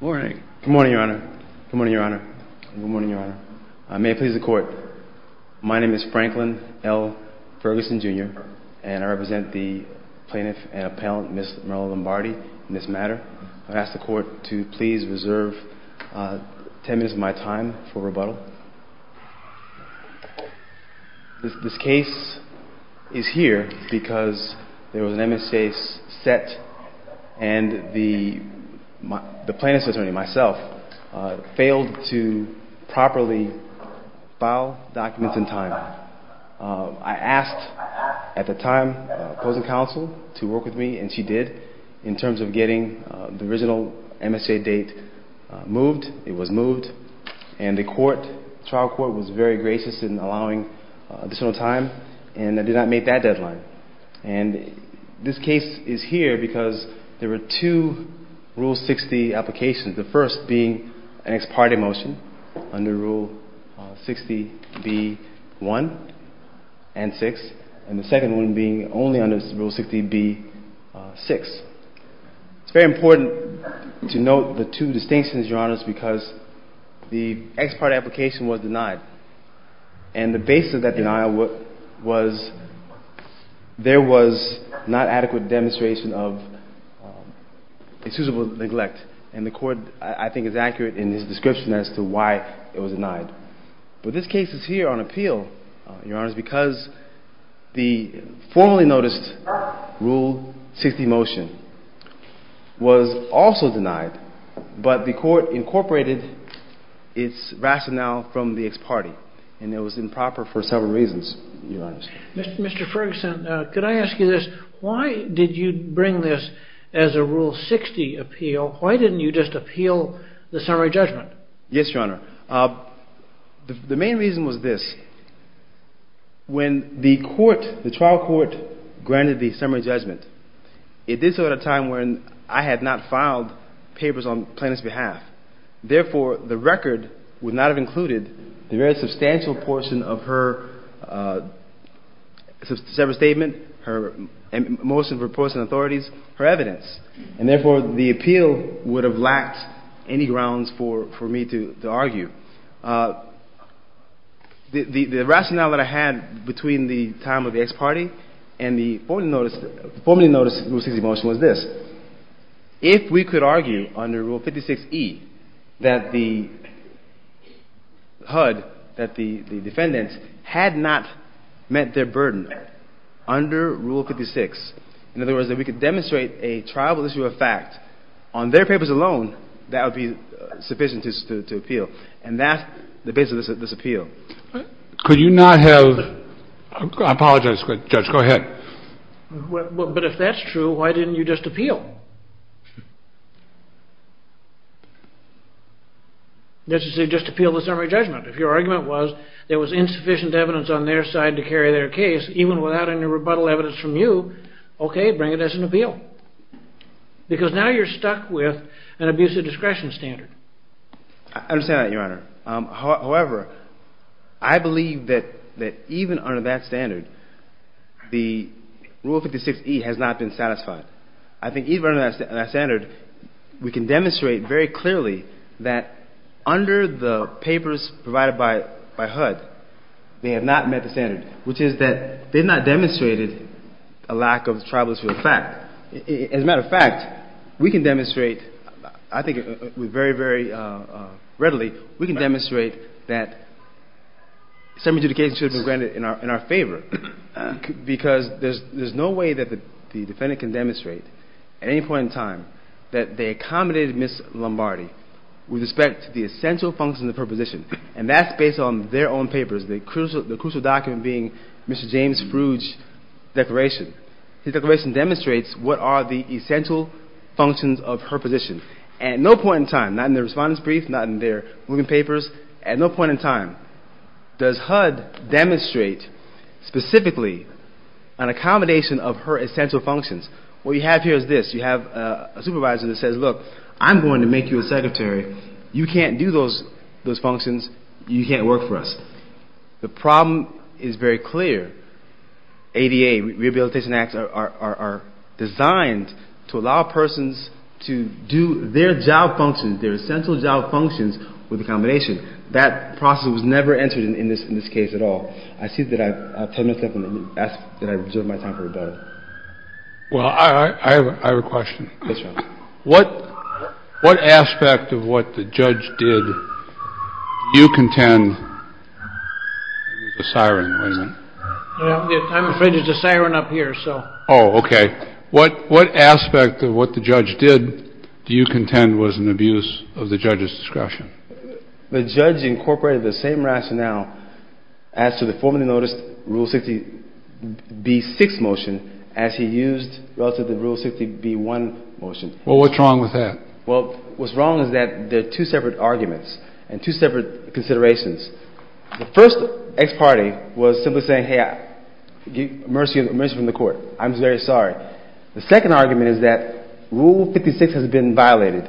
Good morning, your honor. Good morning, your honor. Good morning, your honor. May it please the court, my name is Franklin L. Ferguson, Jr., and I represent the plaintiff and appellant, Ms. Marella Lombardi, in this matter. I ask the court to please reserve ten minutes of my time for rebuttal. This case is here because there was an MSA set and the plaintiff's attorney, myself, failed to properly file documents in time. I asked, at the time, opposing counsel to work with me, and she did, in terms of getting the original MSA date moved. It was moved, and the trial court was very gracious in allowing additional time and did not make that deadline. And this case is here because there were two Rule 60 applications, the first being an ex parte motion under Rule 60b-1 and 6, and the second one being only under Rule 60b-6. It's very important to note the two distinctions, your honors, because the ex parte application was denied, and the basis of that denial was there was not adequate demonstration of excusable neglect, and the court, I think, is accurate in its description as to why it was denied. But this case is here on appeal, your honors, because the formally noticed Rule 60 motion was also denied, but the court incorporated its rationale from the ex parte, and it was improper for several reasons, your honors. Mr. Ferguson, could I ask you this? Why did you bring this as a Rule 60 appeal? Why didn't you just appeal the summary judgment? Yes, your honor. The main reason was this. When the court, the trial court, granted the summary judgment, it did so at a time when I had not filed papers on plaintiff's behalf. Therefore, the record would not have included the very substantial portion of her separate statement, her motion for opposing authorities, her evidence, and therefore, the appeal would have lacked any grounds for me to argue. The rationale that I had between the time of the ex parte and the formally noticed Rule 60 motion was this. If we could argue under Rule 56e that the HUD, that the defendants, had not met their burden under Rule 56, in other words, that we could demonstrate a trial issue of fact on their papers alone, that would be sufficient to appeal. And that's the basis of this appeal. Could you not have – I apologize, Judge, go ahead. But if that's true, why didn't you just appeal? Just appeal the summary judgment. If your argument was there was insufficient evidence on their side to carry their case, even without any rebuttal evidence from you, okay, bring it as an appeal. Because now you're stuck with an abusive discretion standard. I understand that, Your Honor. However, I believe that even under that standard, the Rule 56e has not been satisfied. I think even under that standard, we can demonstrate very clearly that under the papers provided by HUD, they have not met the standard, which is that they've not demonstrated a lack of trial issue of fact. As a matter of fact, we can demonstrate, I think very, very readily, we can demonstrate that some adjudication should have been granted in our favor. Because there's no way that the defendant can demonstrate at any point in time that they accommodated Ms. Lombardi with respect to the essential functions of her position. And that's based on their own papers, the crucial document being Mr. James Frouge's declaration. His declaration demonstrates what are the essential functions of her position. At no point in time, not in their respondent's brief, not in their moving papers, at no point in time does HUD demonstrate specifically an accommodation of her essential functions. What you have here is this. You have a supervisor that says, look, I'm going to make you a secretary. You can't do those functions. You can't work for us. The problem is very clear. ADA, Rehabilitation Acts, are designed to allow persons to do their job functions, their essential job functions with accommodation. That process was never entered in this case at all. I see that I have 10 minutes left, and I ask that I reserve my time for rebuttal. Well, I have a question. Yes, Your Honor. What aspect of what the judge did do you contend was a siren? I'm afraid there's a siren up here, so. Oh, okay. What aspect of what the judge did do you contend was an abuse of the judge's discretion? The judge incorporated the same rationale as to the formerly noticed Rule 60b-6 motion as he used relative to the Rule 60b-1 motion. Well, what's wrong with that? Well, what's wrong is that they're two separate arguments and two separate considerations. The first ex parte was simply saying, hey, mercy from the Court. I'm very sorry. The second argument is that Rule 56 has been violated.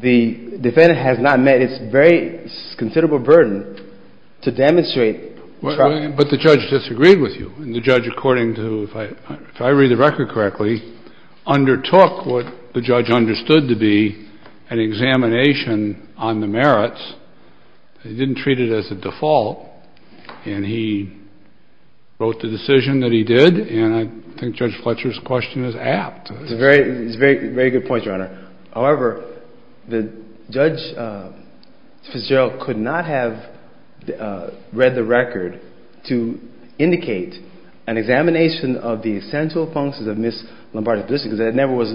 The defendant has not met its very considerable burden to demonstrate trust. But the judge disagreed with you, and the judge, according to, if I read the record correctly, undertook what the judge understood to be an examination on the merits. He didn't treat it as a default, and he wrote the decision that he did, and I think Judge Fletcher's question is apt. It's a very good point, Your Honor. However, Judge Fitzgerald could not have read the record to indicate an examination of the essential functions of Miss Lombardi's decision because that never was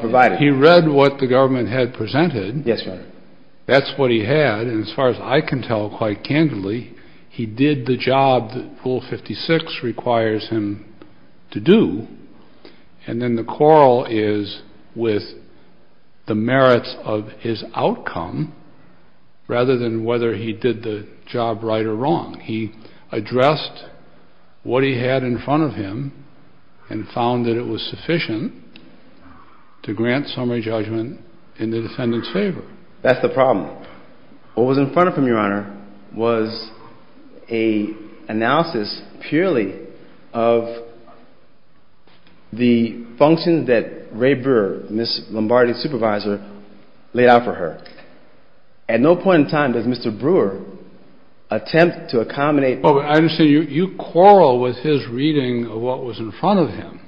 provided. Well, he read what the government had presented. Yes, Your Honor. That's what he had, and as far as I can tell quite candidly, he did the job that Rule 56 requires him to do. And then the quarrel is with the merits of his outcome rather than whether he did the job right or wrong. He addressed what he had in front of him and found that it was sufficient to grant summary judgment in the defendant's favor. That's the problem. What was in front of him, Your Honor, was an analysis purely of the functions that Ray Brewer, Miss Lombardi's supervisor, laid out for her. At no point in time does Mr. Brewer attempt to accommodate. I understand you quarrel with his reading of what was in front of him,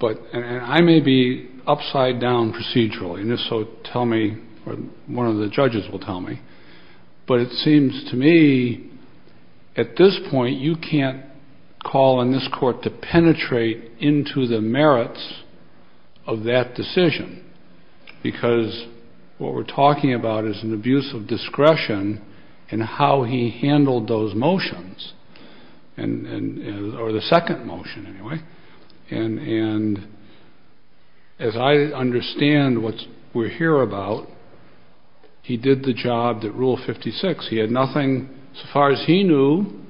and I may be upside down procedurally, and if so, tell me, or one of the judges will tell me, but it seems to me at this point you can't call on this court to penetrate into the merits of that decision, because what we're talking about is an abuse of discretion in how he handled those motions, or the second motion anyway. And as I understand what we're here about, he did the job that Rule 56. He had nothing. As far as he knew,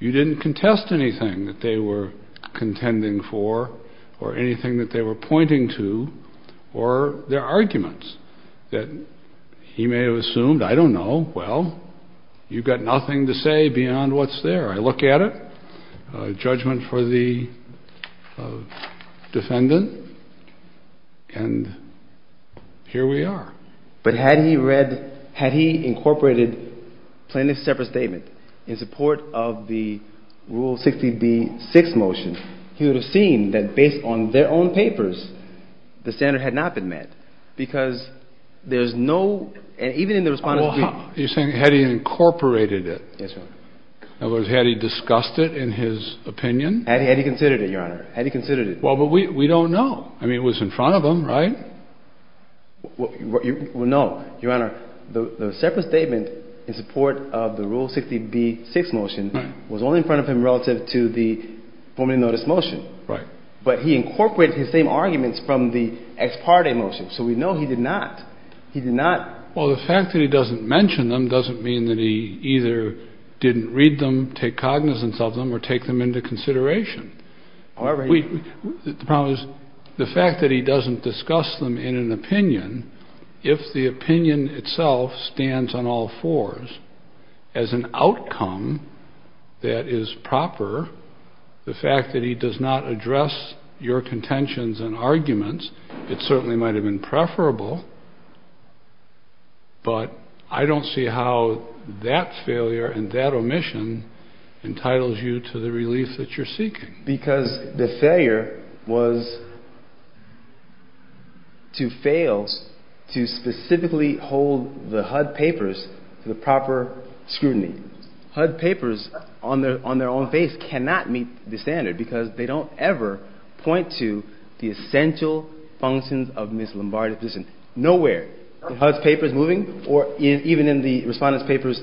you didn't contest anything that they were contending for or anything that they were pointing to or their arguments that he may have assumed. I don't know. Well, you've got nothing to say beyond what's there. I look at it, judgment for the defendant, and here we are. But had he read – had he incorporated plaintiff's separate statement in support of the Rule 60b-6 motion, he would have seen that based on their own papers the standard had not been met, because there's no – and even in the response to the – You're saying had he incorporated it. Yes, Your Honor. In other words, had he discussed it in his opinion? Had he considered it, Your Honor. Had he considered it. Well, but we don't know. I mean, it was in front of him, right? Well, no, Your Honor. The separate statement in support of the Rule 60b-6 motion was only in front of him relative to the formerly noticed motion. Right. But he incorporated his same arguments from the ex parte motion. So we know he did not. He did not. Well, the fact that he doesn't mention them doesn't mean that he either didn't read them, take cognizance of them, or take them into consideration. The problem is the fact that he doesn't discuss them in an opinion, if the opinion itself stands on all fours as an outcome that is proper, the fact that he does not address your contentions and arguments, it certainly might have been preferable, but I don't see how that failure and that omission entitles you to the relief that you're seeking. Because the failure was to fail to specifically hold the HUD papers to the proper scrutiny. HUD papers on their own face cannot meet the standard because they don't ever point to the essential functions of Ms. Lombardi's position. Nowhere in HUD's papers moving or even in the Respondent's papers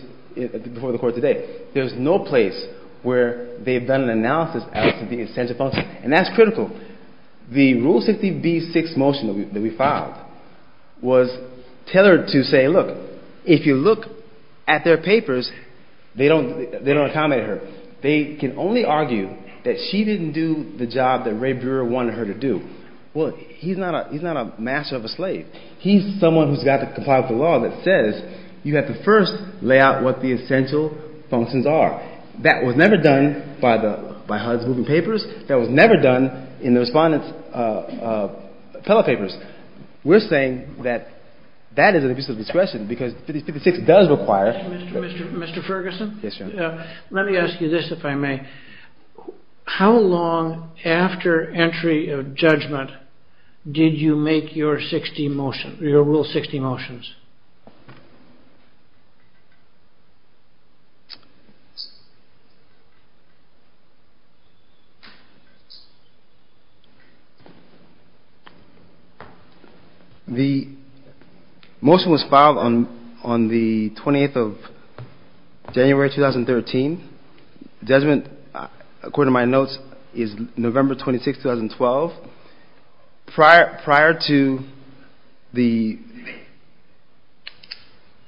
before the Court today, there's no place where they've done an analysis as to the essential functions, and that's critical. The Rule 60b-6 motion that we filed was tailored to say, look, if you look at their papers, they don't accommodate her. They can only argue that she didn't do the job that Ray Brewer wanted her to do. Well, he's not a master of a slave. He's someone who's got to comply with the law that says you have to first lay out what the essential functions are. That was never done by HUD's moving papers. That was never done in the Respondent's fellow papers. We're saying that that is an abuse of discretion because 50-56 does require. Mr. Ferguson? Yes, Your Honor. Let me ask you this, if I may. How long after entry of judgment did you make your Rule 60 motions? The motion was filed on the 28th of January, 2013. Judgment, according to my notes, is November 26, 2012. Prior to the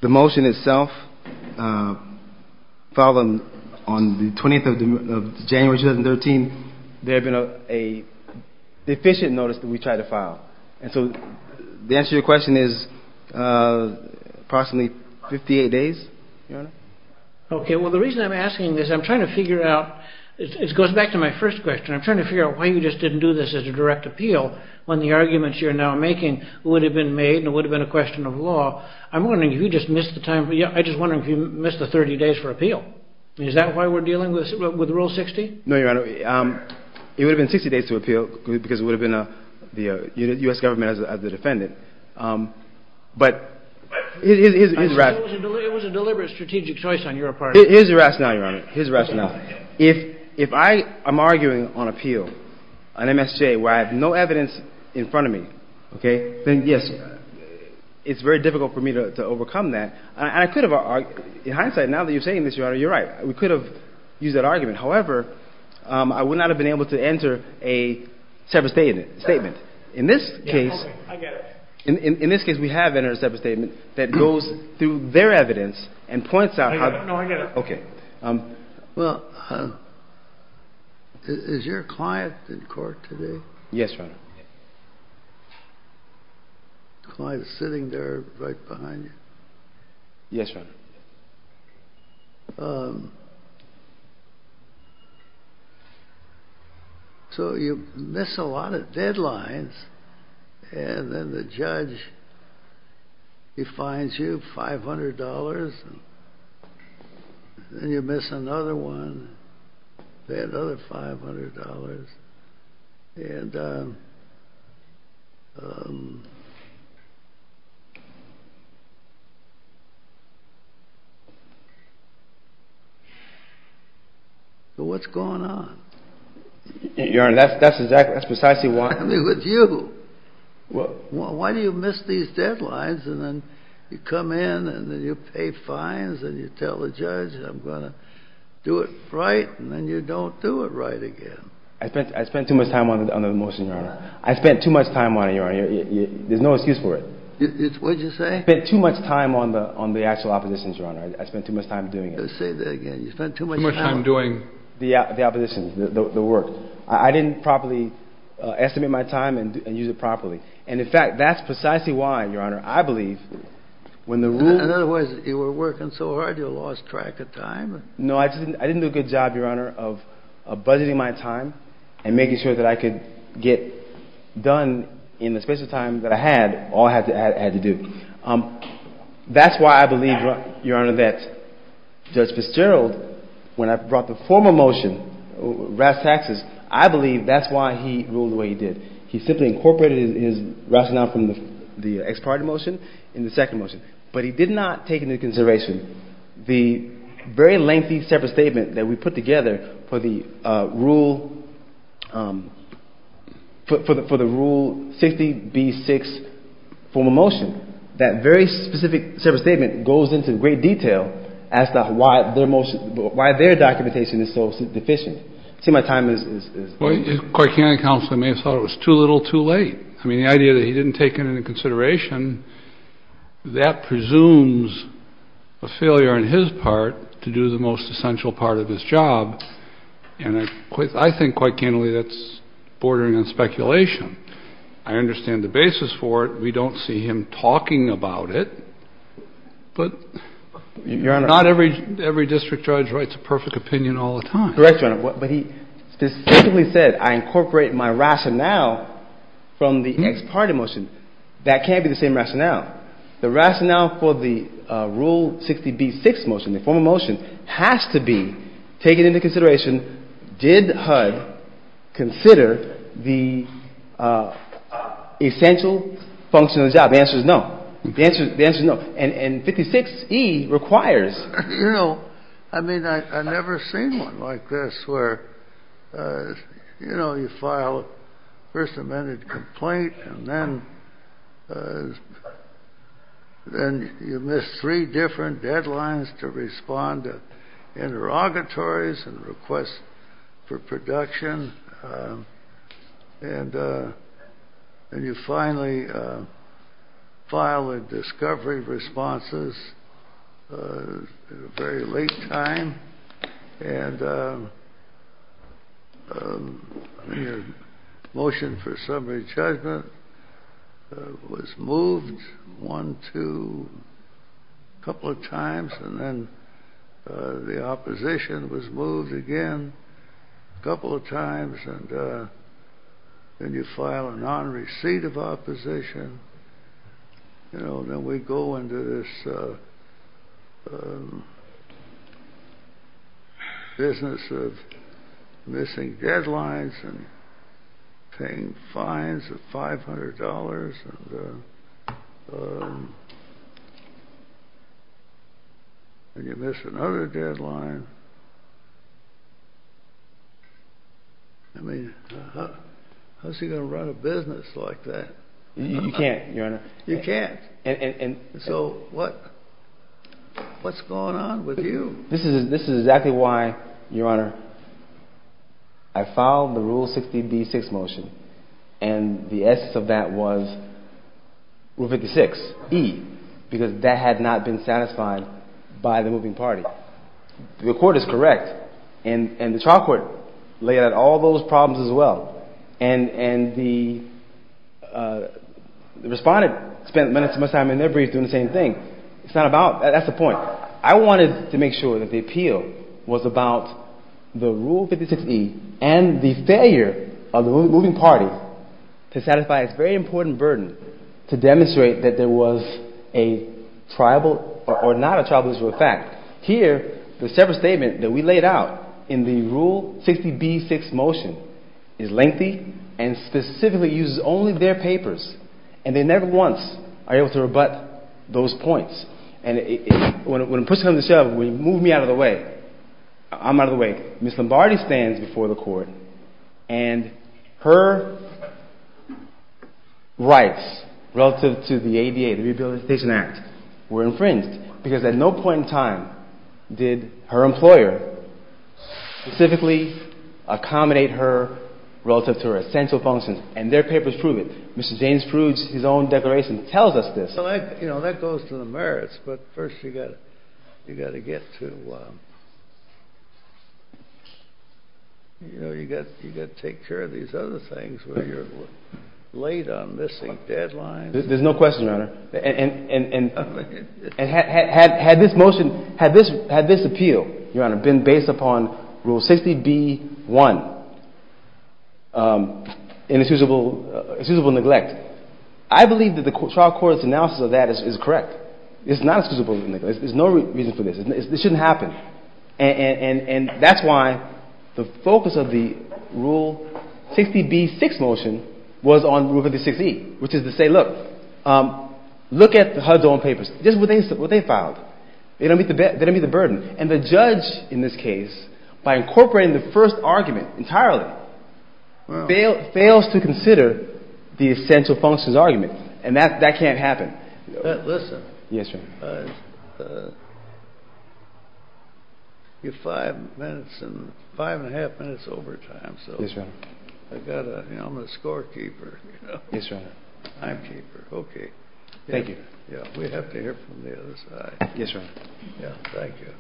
motion itself, filed on the 20th of January, 2013, there had been a deficient notice that we tried to file. And so the answer to your question is approximately 58 days, Your Honor. Okay. Well, the reason I'm asking this, I'm trying to figure out, this goes back to my first question. I'm trying to figure out why you just didn't do this as a direct appeal when the arguments you're now making would have been made and would have been a question of law. I'm wondering if you just missed the time. I'm just wondering if you missed the 30 days for appeal. Is that why we're dealing with Rule 60? No, Your Honor. It would have been 60 days to appeal because it would have been the U.S. government as the defendant. But his rationale... It was a deliberate strategic choice on your part. His rationale, Your Honor. His rationale. If I am arguing on appeal, an MSJ, where I have no evidence in front of me, okay, then, yes, it's very difficult for me to overcome that. And I could have argued. In hindsight, now that you're saying this, Your Honor, you're right. We could have used that argument. However, I would not have been able to enter a separate statement. In this case... Okay. I get it. In this case, we have entered a separate statement that goes through their evidence and points out how... No, I get it. Okay. Well, is your client in court today? Yes, Your Honor. The client is sitting there right behind you. Yes, Your Honor. So you miss a lot of deadlines. And then the judge, he fines you $500. Then you miss another one. Then another $500. And... What's going on? Your Honor, that's precisely why... I mean, with you. Why do you miss these deadlines? And then you come in and then you pay fines and you tell the judge, I'm going to do it right. And then you don't do it right again. I spent too much time on the motion, Your Honor. I spent too much time on it, Your Honor. There's no excuse for it. What did you say? I spent too much time on the actual oppositions, Your Honor. I spent too much time doing it. Say that again. You spent too much time... Too much time doing... The oppositions, the work. I didn't properly estimate my time and use it properly. And, in fact, that's precisely why, Your Honor, I believe... In other words, you were working so hard you lost track of time? No, I didn't do a good job, Your Honor, of budgeting my time and making sure that I could get done in the space of time that I had, all I had to do. That's why I believe, Your Honor, that Judge Fitzgerald, when I brought the former motion, Rass Taxes, I believe that's why he ruled the way he did. He simply incorporated his rationale from the ex parte motion in the second motion. But he did not take into consideration the very lengthy separate statement that we put together for the rule 60B6 form of motion. That very specific separate statement goes into great detail as to why their motion, why their documentation is so deficient. See, my time is... Quite candidly, counsel, I may have thought it was too little too late. I mean, the idea that he didn't take it into consideration, that presumes a failure on his part to do the most essential part of his job. And I think, quite candidly, that's bordering on speculation. I understand the basis for it. We don't see him talking about it. But not every district judge writes a perfect opinion all the time. Correct, Your Honor. But he specifically said, I incorporate my rationale from the ex parte motion. That can't be the same rationale. The rationale for the rule 60B6 motion, the form of motion, has to be taken into consideration. Did HUD consider the essential function of the job? The answer is no. The answer is no. And 56E requires. You know, I mean, I've never seen one like this where, you know, you file a First Amendment complaint, and then you miss three different deadlines to respond to interrogatories and requests for production. And then you finally file a discovery responses at a very late time. And your motion for summary judgment was moved one, two, a couple of times. And then the opposition was moved again a couple of times. And then you file a non-receipt of opposition. You know, then we go into this business of missing deadlines and paying fines of $500. And you miss another deadline. I mean, how's he going to run a business like that? You can't, Your Honor. You can't. So what? What's going on with you? This is exactly why, Your Honor, I filed the rule 60B6 motion, and the essence of that was rule 56E, because that had not been satisfied by the moving party. The Court is correct, and the trial court laid out all those problems as well. And the respondent spent much time in their briefs doing the same thing. That's the point. I wanted to make sure that the appeal was about the rule 56E and the failure of the moving party to satisfy its very important burden to demonstrate that there was a tribal or not a tribal issue of fact. Here, the separate statement that we laid out in the rule 60B6 motion is lengthy and specifically uses only their papers. And they never once are able to rebut those points. And when a person comes to the show, when you move me out of the way, I'm out of the way. Ms. Lombardi stands before the Court, and her rights relative to the ADA, the Rehabilitation Act, were infringed. Because at no point in time did her employer specifically accommodate her relative to her essential functions. And their papers prove it. Mr. James Prude's own declaration tells us this. Well, you know, that goes to the merits. But first you've got to get to, you know, you've got to take care of these other things where you're late on missing deadlines. There's no question, Your Honor. And had this motion, had this appeal, Your Honor, been based upon Rule 60B1, inexcusable neglect, I believe that the trial court's analysis of that is correct. It's not excusable neglect. There's no reason for this. This shouldn't happen. And that's why the focus of the Rule 60B6 motion was on Rule 506E, which is to say, look, look at the HUD's own papers. This is what they filed. They don't meet the burden. And the judge in this case, by incorporating the first argument entirely, fails to consider the essential functions argument. And that can't happen. Listen. Yes, Your Honor. You have five minutes and five and a half minutes overtime. Yes, Your Honor. I'm a scorekeeper. Yes, Your Honor. I'm keeper. OK. Thank you. We have to hear from the other side. Yes, Your Honor. Yeah, thank you.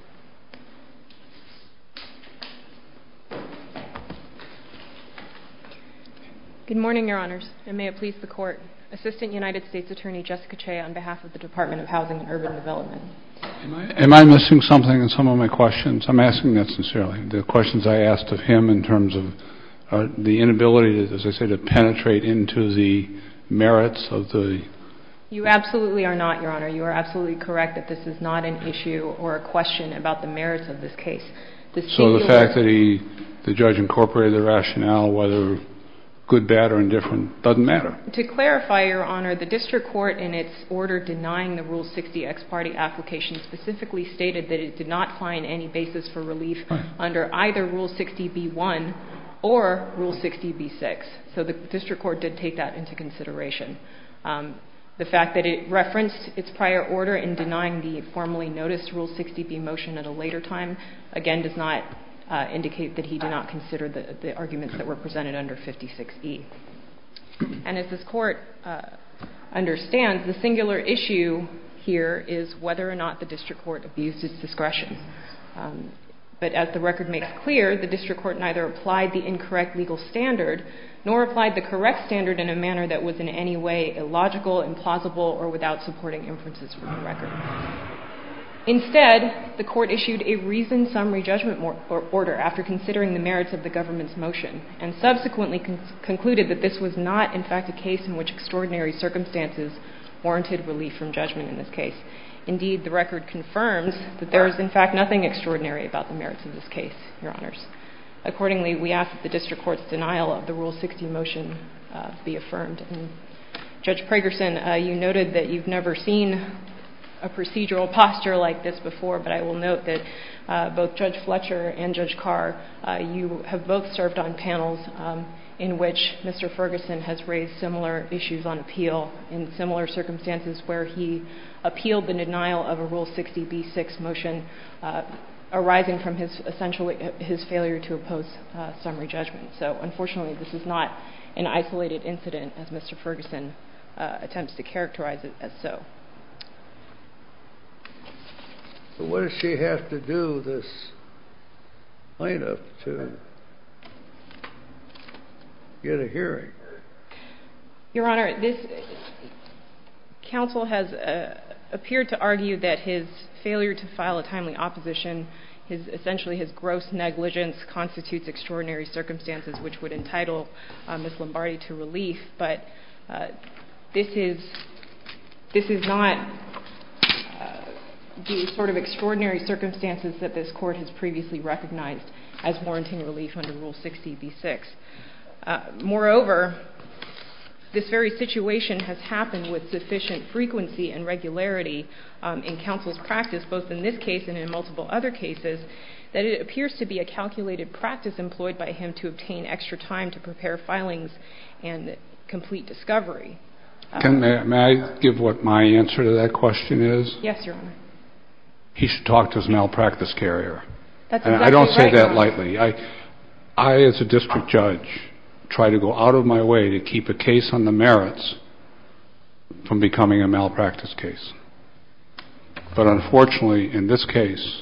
Good morning, Your Honors. And may it please the Court. I'm Assistant United States Attorney Jessica Chea on behalf of the Department of Housing and Urban Development. Am I missing something in some of my questions? I'm asking that sincerely. The questions I asked of him in terms of the inability, as I said, to penetrate into the merits of the… You absolutely are not, Your Honor. You are absolutely correct that this is not an issue or a question about the merits of this case. So the fact that the judge incorporated the rationale, whether good, bad, or indifferent, doesn't matter? To clarify, Your Honor, the district court, in its order denying the Rule 60 ex parte application, specifically stated that it did not find any basis for relief under either Rule 60b-1 or Rule 60b-6. So the district court did take that into consideration. The fact that it referenced its prior order in denying the formally noticed Rule 60b motion at a later time, again, does not indicate that he did not consider the arguments that were presented under 56e. And as this court understands, the singular issue here is whether or not the district court abused its discretion. But as the record makes clear, the district court neither applied the incorrect legal standard nor applied the correct standard in a manner that was in any way illogical, implausible, or without supporting inferences from the record. Instead, the court issued a reasoned summary judgment order after considering the merits of the government's motion and subsequently concluded that this was not, in fact, a case in which extraordinary circumstances warranted relief from judgment in this case. Indeed, the record confirms that there is, in fact, nothing extraordinary about the merits of this case, Your Honors. Accordingly, we ask that the district court's denial of the Rule 60 motion be affirmed. And Judge Pragerson, you noted that you've never seen a procedural posture like this before, but I will note that both Judge Fletcher and Judge Carr, you have both served on panels in which Mr. Ferguson has raised similar issues on appeal in similar circumstances where he appealed the denial of a Rule 60b-6 motion arising from his failure to oppose summary judgment. So unfortunately, this is not an isolated incident, as Mr. Ferguson attempts to characterize it as so. So what does she have to do, this plaintiff, to get a hearing? Your Honor, this counsel has appeared to argue that his failure to file a timely opposition, essentially his gross negligence constitutes extraordinary circumstances which would entitle Ms. Lombardi to relief, but this is not the sort of extraordinary circumstances that this Court has previously recognized as warranting relief under Rule 60b-6. Moreover, this very situation has happened with sufficient frequency and regularity in counsel's practice, both in this case and in multiple other cases, that it appears to be a calculated practice employed by him to obtain extra time to prepare filings and complete discovery. May I give what my answer to that question is? Yes, Your Honor. He should talk to his malpractice carrier. I don't say that lightly. I, as a district judge, try to go out of my way to keep a case on the merits from becoming a malpractice case. But unfortunately, in this case,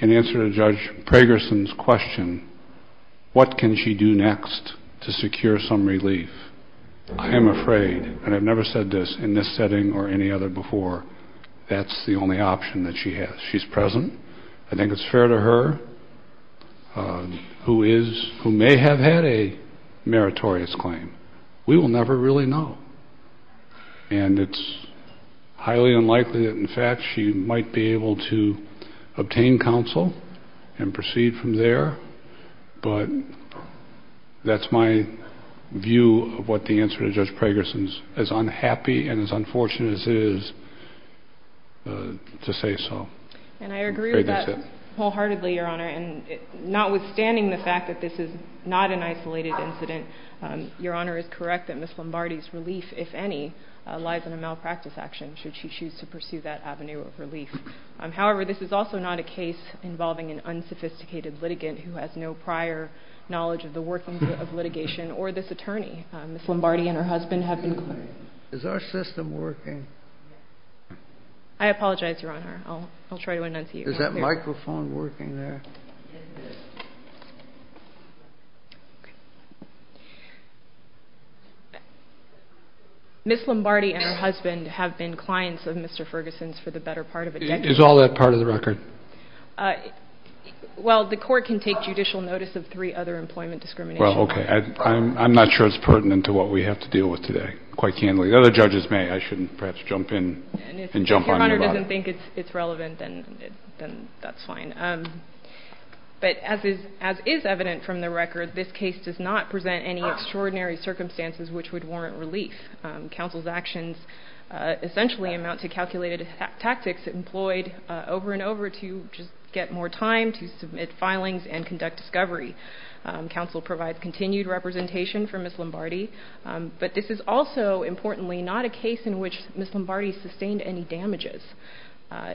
in answer to Judge Pragerson's question, what can she do next to secure some relief, I am afraid, and I've never said this in this setting or any other before, that's the only option that she has. She's present. I think it's fair to her who may have had a meritorious claim. We will never really know. And it's highly unlikely that, in fact, she might be able to obtain counsel and proceed from there. But that's my view of what the answer to Judge Pragerson's, as unhappy and as unfortunate as it is, to say so. And I agree with that wholeheartedly, Your Honor. And notwithstanding the fact that this is not an isolated incident, Your Honor is correct that Ms. Lombardi's relief, if any, lies in a malpractice action should she choose to pursue that avenue of relief. However, this is also not a case involving an unsophisticated litigant who has no prior knowledge of the workings of litigation or this attorney. Ms. Lombardi and her husband have been claimed. Is our system working? I apologize, Your Honor. I'll try to enunciate. Is that microphone working there? Ms. Lombardi and her husband have been clients of Mr. Ferguson's for the better part of a decade. Is all that part of the record? Well, the court can take judicial notice of three other employment discriminations. Well, OK. I'm not sure it's pertinent to what we have to deal with today, quite candidly. The other judges may. I shouldn't perhaps jump in and jump on you about it. If you don't think it's relevant, then that's fine. But as is evident from the record, this case does not present any extraordinary circumstances which would warrant relief. Counsel's actions essentially amount to calculated tactics employed over and over to just get more time to submit filings and conduct discovery. Counsel provides continued representation for Ms. Lombardi. But this is also, importantly, not a case in which Ms. Lombardi sustained any damages,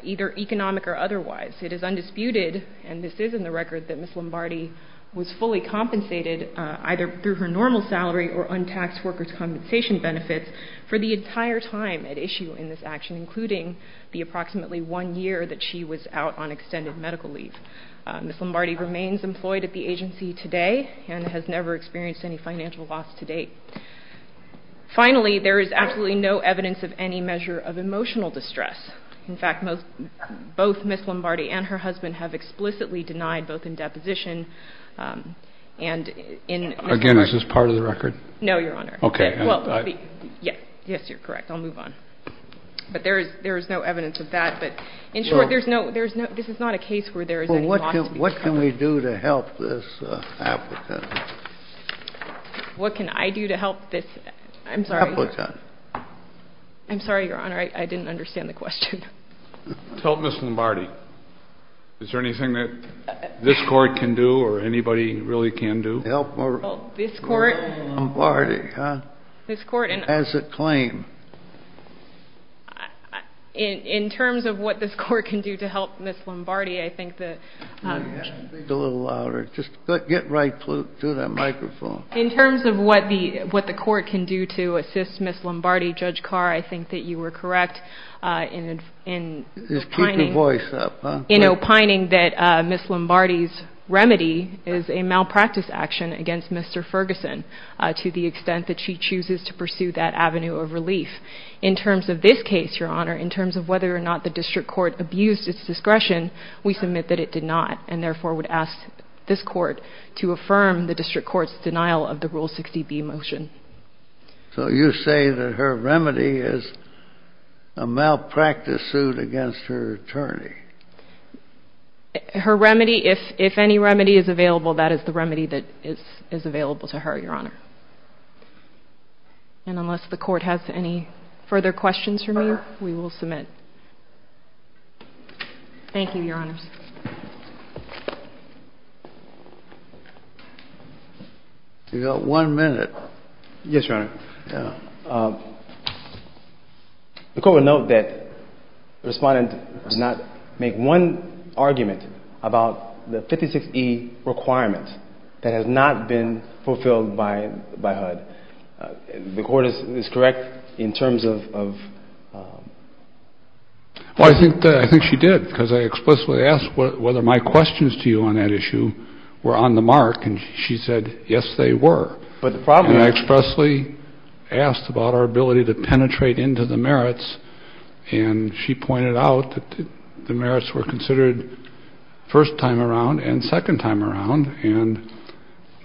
either economic or otherwise. It is undisputed, and this is in the record, that Ms. Lombardi was fully compensated either through her normal salary or untaxed workers' compensation benefits for the entire time at issue in this action, including the approximately one year that she was out on extended medical leave. Ms. Lombardi remains employed at the agency today and has never experienced any financial loss to date. Finally, there is absolutely no evidence of any measure of emotional distress. In fact, both Ms. Lombardi and her husband have explicitly denied both in deposition and in Ms. Lombardi's case. Again, is this part of the record? No, Your Honor. Okay. Yes, you're correct. I'll move on. But there is no evidence of that. In short, this is not a case where there is any loss to be found. What can we do to help this applicant? What can I do to help this? I'm sorry. Applicant. I'm sorry, Your Honor. I didn't understand the question. Help Ms. Lombardi. Is there anything that this Court can do or anybody really can do? Help Ms. Lombardi as a claim. In terms of what this Court can do to help Ms. Lombardi, I think that the ---- Speak a little louder. Just get right through that microphone. In terms of what the Court can do to assist Ms. Lombardi, Judge Carr, I think that you were correct in opining ---- Just keep your voice up. in opining that Ms. Lombardi's remedy is a malpractice action against Mr. Ferguson to the extent that she chooses to pursue that avenue of relief. In terms of this case, Your Honor, in terms of whether or not the district court abused its discretion, we submit that it did not, and therefore would ask this Court to affirm the district court's denial of the Rule 60B motion. So you say that her remedy is a malpractice suit against her attorney. Her remedy, if any remedy is available, that is the remedy that is available to her, Your Honor. And unless the Court has any further questions for me, we will submit. Thank you, Your Honors. You've got one minute. Yes, Your Honor. The Court will note that the Respondent did not make one argument about the 56E requirement that has not been fulfilled by HUD. The Court is correct in terms of ---- Well, I think she did, because I explicitly asked whether my questions to you on that issue were on the mark, and she said, yes, they were. And I expressly asked about our ability to penetrate into the merits, and she pointed out that the merits were considered first time around and second time around. And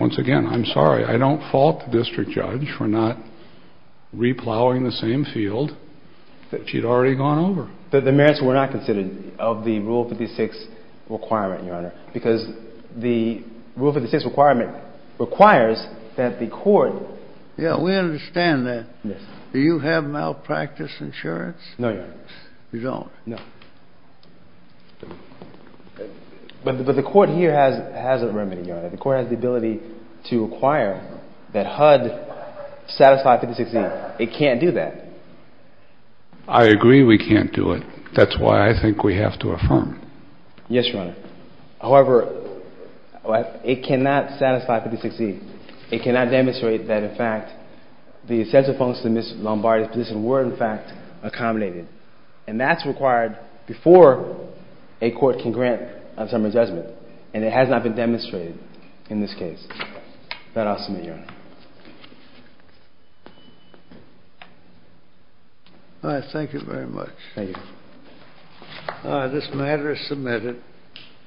once again, I'm sorry. I don't fault the district judge for not replowing the same field that she'd already gone over. The merits were not considered of the Rule 56 requirement, Your Honor, because the Rule 56 requirement requires that the Court ---- Yes, we understand that. Yes. Do you have malpractice insurance? No, Your Honor. You don't? No. But the Court here has a remedy, Your Honor. The Court has the ability to require that HUD satisfy 56E. It can't do that. I agree we can't do it. That's why I think we have to affirm. Yes, Your Honor. However, it cannot satisfy 56E. It cannot demonstrate that, in fact, the essential functions of Ms. Lombardi's position were, in fact, accommodated. And that's required before a court can grant a summary judgment. And it has not been demonstrated in this case. That I'll submit, Your Honor. All right. Thank you very much. Thank you. This matter is submitted.